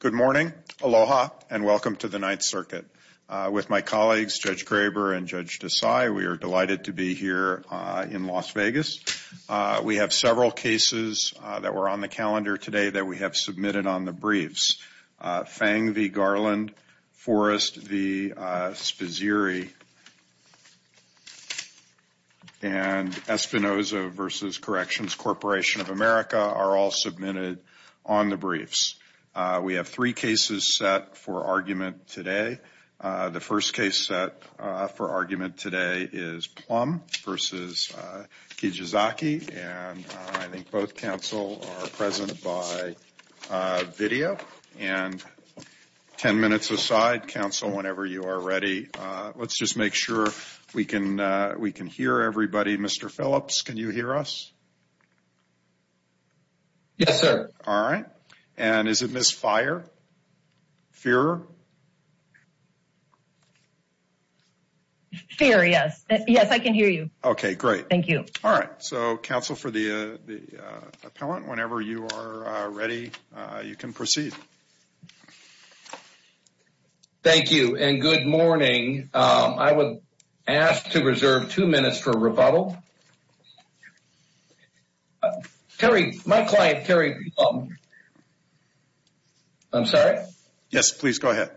Good morning, aloha, and welcome to the Ninth Circuit. With my colleagues, Judge Graber and Judge Desai, we are delighted to be here in Las Vegas. We have several cases that were on the calendar today that we have submitted on the briefs. Fang v. Garland, Forrest v. Sposiri, and Espinoza v. Corrections Corporation of America are all submitted on the briefs. We have three cases set for argument today. The first case set for argument today is Plumb v. Kijazaki, and I think both counsel are present by video. And 10 minutes aside, counsel, whenever you are ready, let's just make sure we can hear everybody. Mr. Phillips, can you hear us? Yes, sir. All right. And is it Ms. Feier? Feier, yes. Yes, I can hear you. Okay, great. Thank you. All right. So, counsel for the appellant, whenever you are ready, you can proceed. Thank you, and good morning. I would ask to reserve two minutes for rebuttal. My client, Terry Plumb... I'm sorry? Yes, please go ahead.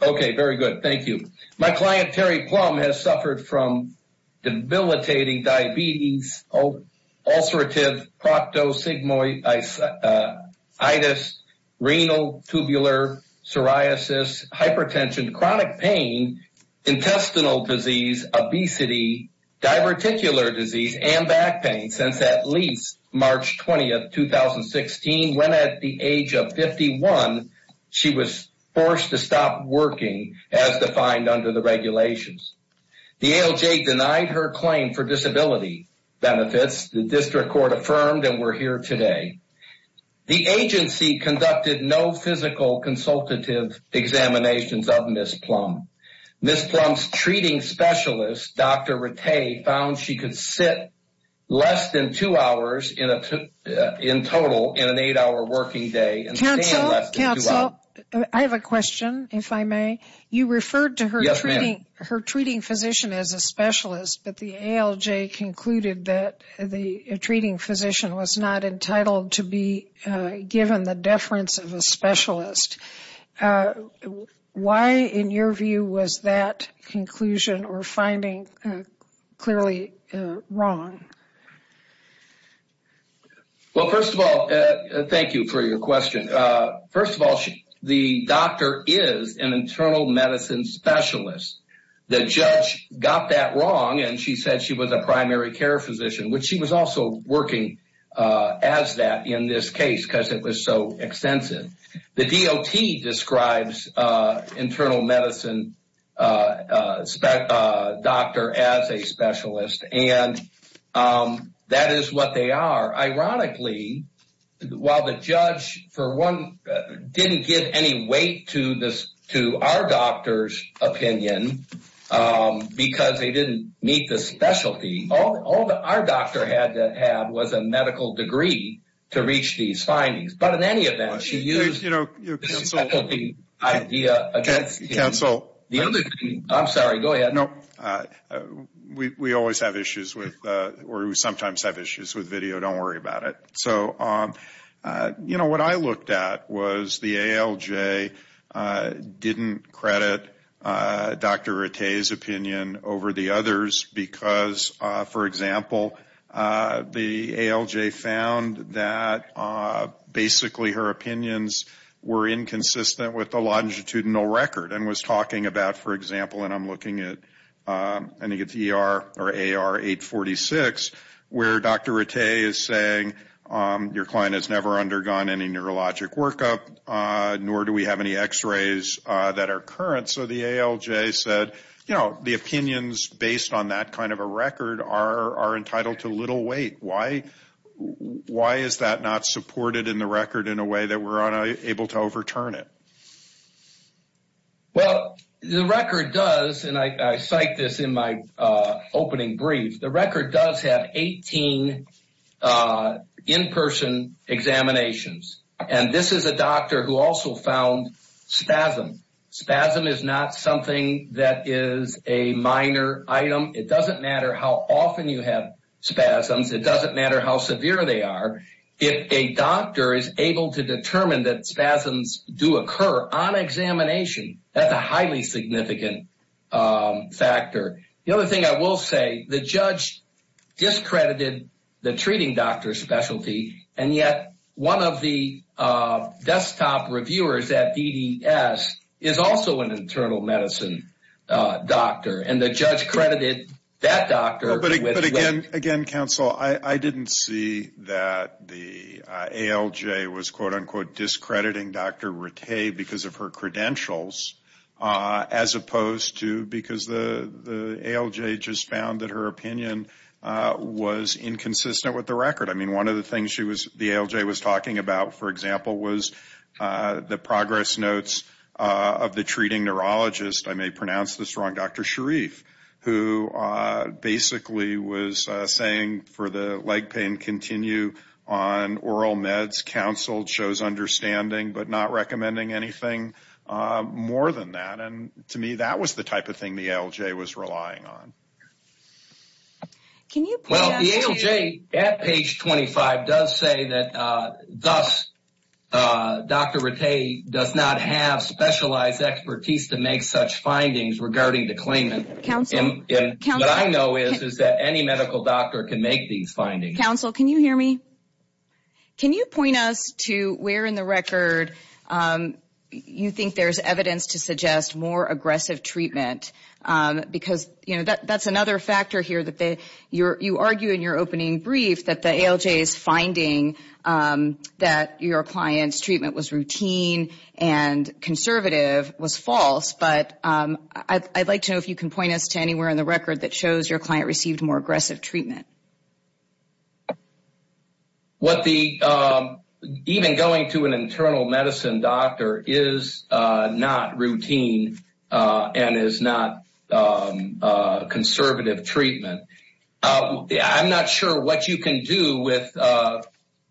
Okay, very good. Thank you. My client, Terry Plumb, has suffered from debilitating diabetes, ulcerative proctosigmoiditis, renal tubular psoriasis, hypertension, chronic pain, intestinal disease, obesity, diverticular disease, and back pain since at least March 20th, 2016, when at the age of 51, she was forced to stop working as defined under the regulations. The ALJ denied her claim for disability benefits. The district court affirmed and we're here today. The agency conducted no physical consultative examinations of Ms. Plumb. Ms. Plumb's treating specialist, Dr. Rattay, found she could sit less than two hours in total in an eight-hour working day. Counsel, I have a question, if I may. You referred to her treating physician as a specialist, but the ALJ concluded that the treating physician was not entitled to be given the deference of a specialist. Why, in your view, was that conclusion or finding clearly wrong? Well, first of all, thank you for your question. First of all, the doctor is an internal medicine specialist. The judge got that wrong and she said she was a primary care physician, which she was also working as that in this case because it was so extensive. The DOT describes internal medicine a doctor as a specialist and that is what they are. Ironically, while the judge, for one, didn't give any weight to our doctor's opinion because they didn't meet the specialty, all that our doctor had to have was a medical degree to reach these findings. But in any other case, I'm sorry, go ahead. No, we always have issues with, or we sometimes have issues with video, don't worry about it. So, you know, what I looked at was the ALJ didn't credit Dr. Rattay's opinion over the others because, for example, the ALJ found that basically her opinions were inconsistent with the longitudinal record and was talking about, for example, and I'm looking at I think it's ER or AR 846, where Dr. Rattay is saying your client has never undergone any neurologic workup, nor do we have any x-rays that are current. So the ALJ said, you know, the opinions based on that kind of a record are entitled to little weight. Why is that not pertinent? Well, the record does, and I cite this in my opening brief, the record does have 18 in-person examinations. And this is a doctor who also found spasm. Spasm is not something that is a minor item. It doesn't matter how often you have spasms. It doesn't matter how severe they are. If a doctor is able to determine that spasms do occur on examination, that's a highly significant factor. The other thing I will say, the judge discredited the treating doctor specialty, and yet one of the desktop reviewers at EDS is also an internal medicine doctor, and the judge credited that doctor. But again, counsel, I didn't see that the ALJ was, quote unquote, discrediting Dr. Rattay because of her credentials, as opposed to because the ALJ just found that her opinion was inconsistent with the record. I mean, one of the things the ALJ was talking about, for example, was the progress notes of the treating neurologist, I may pronounce this wrong, Dr. Sharif, who basically was saying for the leg pain, continue on oral meds, counseled, chose understanding, but not recommending anything more than that. And to me, that was the type of thing the ALJ was relying on. Well, the ALJ at page 25 does say that, thus, Dr. Rattay does not have specialized expertise to make such findings regarding the claimant. What I know is that any medical doctor can make these findings. Counsel, can you hear me? Can you point us to where in the record you think there's evidence to suggest more aggressive treatment? Because that's another factor here that you argue in your opening brief that the ALJ's finding that your client's treatment was routine and conservative was false. But I'd like to know if you can point us to anywhere in the record that shows your client received more aggressive treatment. Even going to an internal medicine doctor is not routine and is not conservative treatment. I'm not sure what you can do with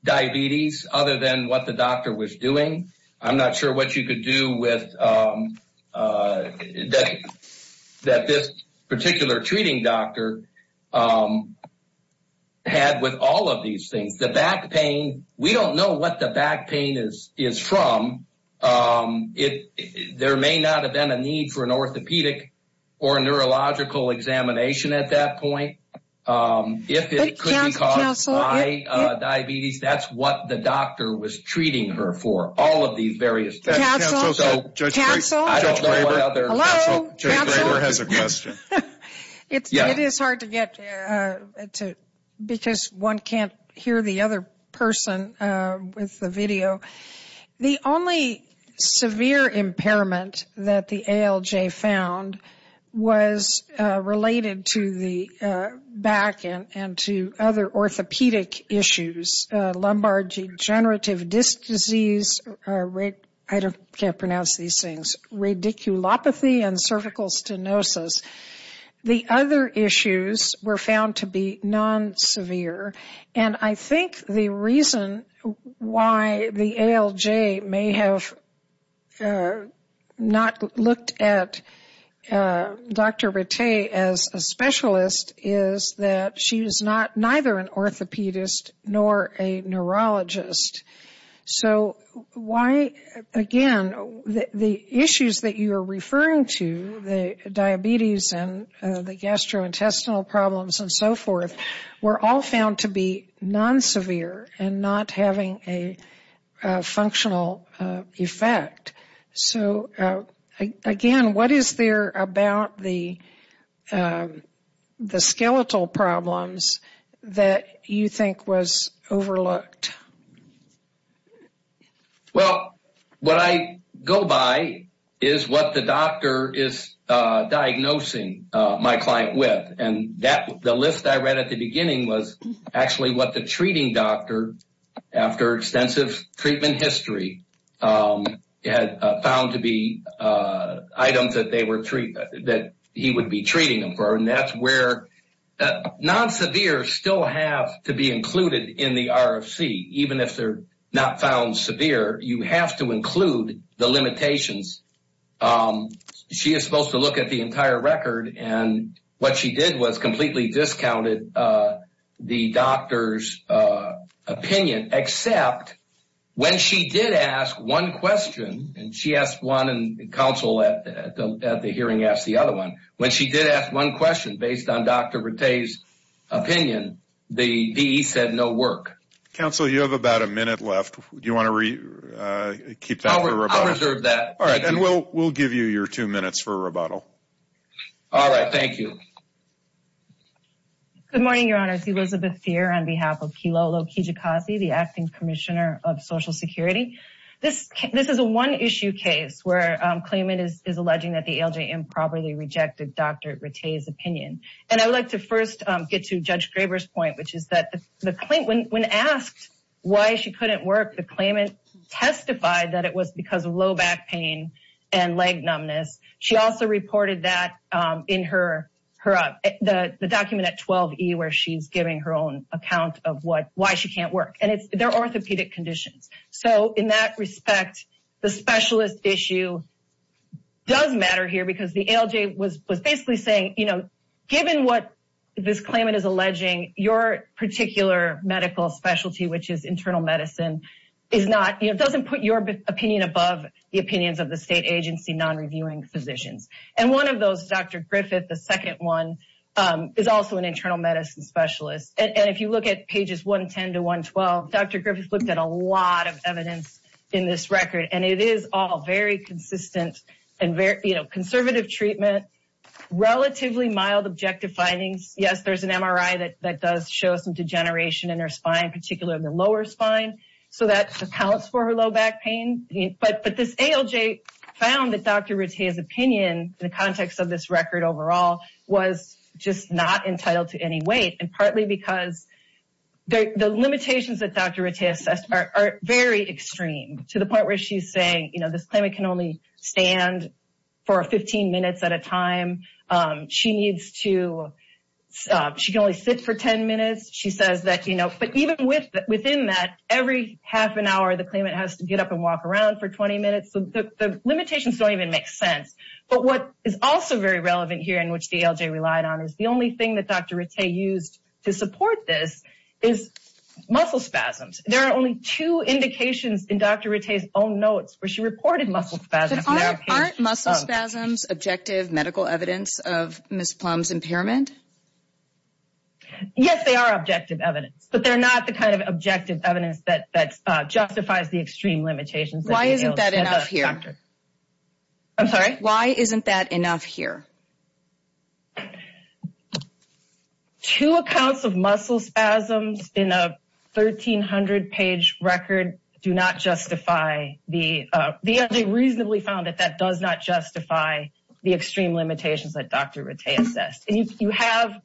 diabetes other than what the doctor was doing. I'm not sure what you could do with that this particular treating doctor had with all of these things. The back pain, we don't know what the back pain is from. There may not have been a need for an orthopedic or neurological examination at that point. If it could be caused by diabetes, that's what the doctor was treating her for, all of these various things. Counsel? Judge Graber has a question. It is hard to get to because one can't hear the other person with the video. The only severe impairment that the ALJ found was related to the back and to other orthopedic issues. Lumbar degenerative disc disease, I can't pronounce these things, radiculopathy and cervical stenosis. The other issues were found to be non-severe. I think the reason why the ALJ may have not looked at Dr. Rattay as a specialist is that she is neither an orthopedist nor a neurologist. Again, the issues that you are referring to, the diabetes and the gastrointestinal problems and so forth, were all found to be non-severe and not having a functional effect. Again, what is there about the skeletal problems that you think was overlooked? What I go by is what the doctor is diagnosing my client with. The list I read at the beginning was actually what the treating doctor, after extensive treatment history, had found to be items that he would be treating them for. Non-severe still have to be included in the RFC. Even if they are not found severe, you have to include the limitations. She is supposed to look at the entire record. What she did was completely discounted the doctor's opinion, except when she did ask one question, based on Dr. Rattay's opinion, the DE said no work. Counsel, you have about a minute left. Do you want to keep that for rebuttal? I'll reserve that. All right. We'll give you your two minutes for rebuttal. All right. Thank you. Good morning, Your Honors. Elizabeth Thier on behalf of Kilolo Kijikazi, the Acting Commissioner of Social Security. This is a one-issue case where Clayman is alleging that the ALJM improperly rejected Dr. Rattay's opinion. I would like to first get to Judge Graber's point, which is that when asked why she couldn't work, the claimant testified that it was because of low back pain and leg numbness. She also reported that in the document at 12E, where she's giving her own account of why she can't work. They're orthopedic conditions. In that respect, the specialist issue does matter here because the ALJ was basically saying, given what this claimant is particular medical specialty, which is internal medicine, doesn't put your opinion above the opinions of the state agency non-reviewing physicians. One of those, Dr. Griffith, the second one, is also an internal medicine specialist. If you look at pages 110 to 112, Dr. Griffith looked at a lot of evidence in this record. It is all very consistent and conservative treatment, relatively mild objective findings. Yes, there's an MRI that does show some degeneration in her spine, particularly in the lower spine. That accounts for her low back pain. But this ALJ found that Dr. Rattay's opinion, in the context of this record overall, was just not entitled to any weight. Partly because the limitations that Dr. Rattay assessed are very extreme, to the point she can only sit for 10 minutes. But even within that, every half an hour the claimant has to get up and walk around for 20 minutes. The limitations don't even make sense. But what is also very relevant here, and which the ALJ relied on, is the only thing that Dr. Rattay used to support this is muscle spasms. There are only two indications in Dr. Rattay's own notes where she reported muscle spasms. Aren't muscle spasms objective medical evidence of Ms. Plum's impairment? Yes, they are objective evidence. But they're not the kind of objective evidence that justifies the extreme limitations. Why isn't that enough here? I'm sorry? Why isn't that enough here? Two accounts of muscle spasms in a 1,300-page record do not justify, the ALJ reasonably found that that does not justify the extreme limitations that Dr. Rattay assessed. And you have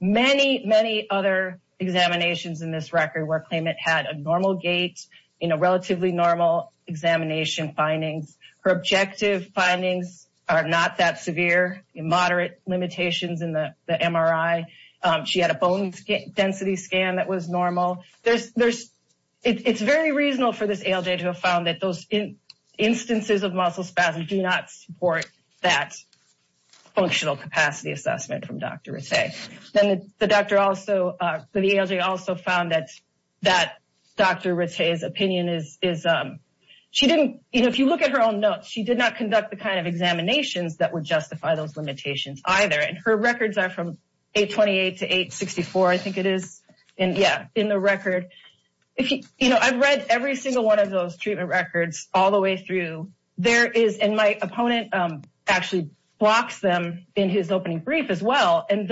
many, many other examinations in this record where a claimant had a normal gait, relatively normal examination findings. Her objective findings are not that severe, in moderate limitations in the MRI. She had a bone density scan that was normal. It's very reasonable for this ALJ to have found that those instances of muscle spasms do not support that functional capacity assessment from Dr. Rattay. The ALJ also found that Dr. Rattay's opinion is, if you look at her own notes, she did not conduct the kind of examinations that would justify those limitations either. And her records are from 828 to 864, I think it is in the record. I've read every single one of those treatment records all the way through. There is, and my opponent actually blocks them in his opening brief as well. And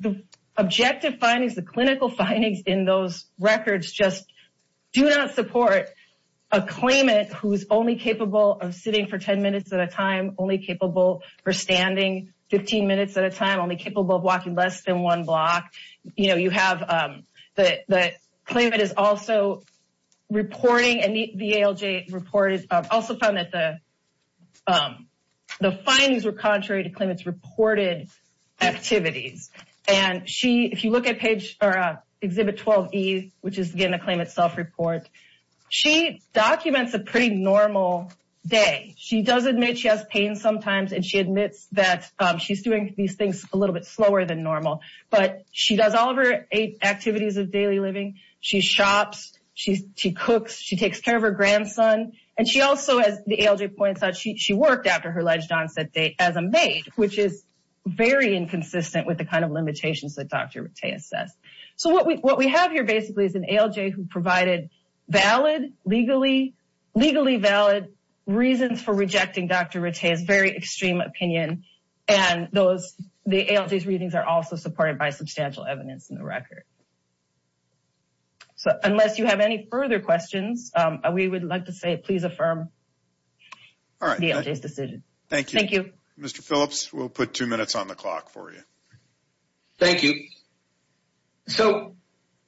the objective findings, the clinical findings in those records just do not support a claimant who is only capable of sitting for 10 minutes at a time, only capable for standing 15 minutes at a time, only capable of walking less than one block. You know, you have the claimant is also reporting, and the ALJ reported, also found that the activities. And she, if you look at page, or exhibit 12E, which is again a claimant self-report, she documents a pretty normal day. She does admit she has pain sometimes, and she admits that she's doing these things a little bit slower than normal. But she does all of her eight activities of daily living. She shops, she cooks, she takes care of her grandson, and she also, as the ALJ points out, she worked after her alleged onset date as a maid, which is very inconsistent with the kind of limitations that Dr. Rattay assessed. So what we have here basically is an ALJ who provided valid, legally valid reasons for rejecting Dr. Rattay's very extreme opinion. And those, the ALJ's readings are also supported by substantial evidence in the record. So unless you have any further questions, we would like to say please affirm. All right. Thank you. Mr. Phillips, we'll put two minutes on the clock for you. Thank you. So,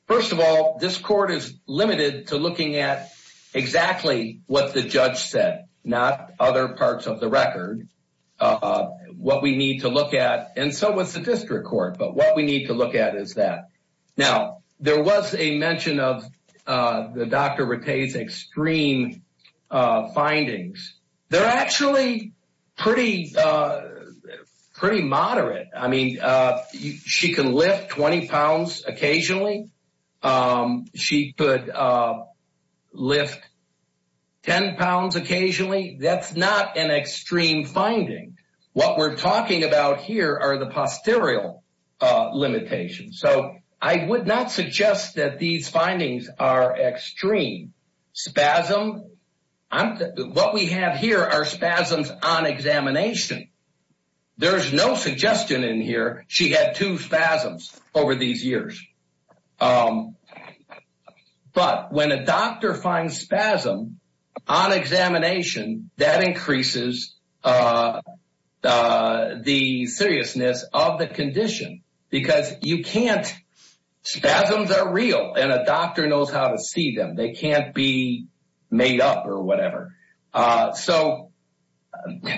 first of all, this court is limited to looking at exactly what the judge said, not other parts of the record. What we need to look at, and so was the district court, but what we need to look at is that. Now, there was a mention of Dr. Rattay's extreme findings. They're actually pretty moderate. I mean, she can lift 20 pounds occasionally. She could lift 10 pounds occasionally. That's not an extreme finding. What we're talking about here are the posterior limitations. So I would not suggest that these findings are extreme. Spasm, what we have here are spasms on examination. There's no suggestion in here she had two spasms over these years. But when a doctor finds spasm on examination, that increases the seriousness of the condition because you can't, spasms are real and a doctor knows how to see them. They can't be made up or whatever. So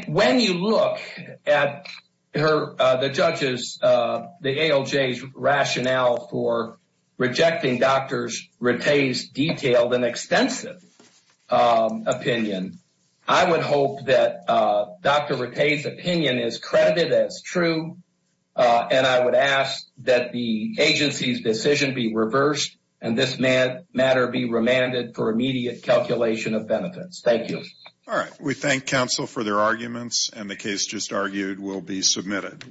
when you look at the judges, the ALJ's rationale for rejecting Dr. Rattay's detailed and extensive opinion, I would hope that Dr. Rattay's credited as true, and I would ask that the agency's decision be reversed and this matter be remanded for immediate calculation of benefits. Thank you. All right. We thank counsel for their arguments and the case just argued will be submitted.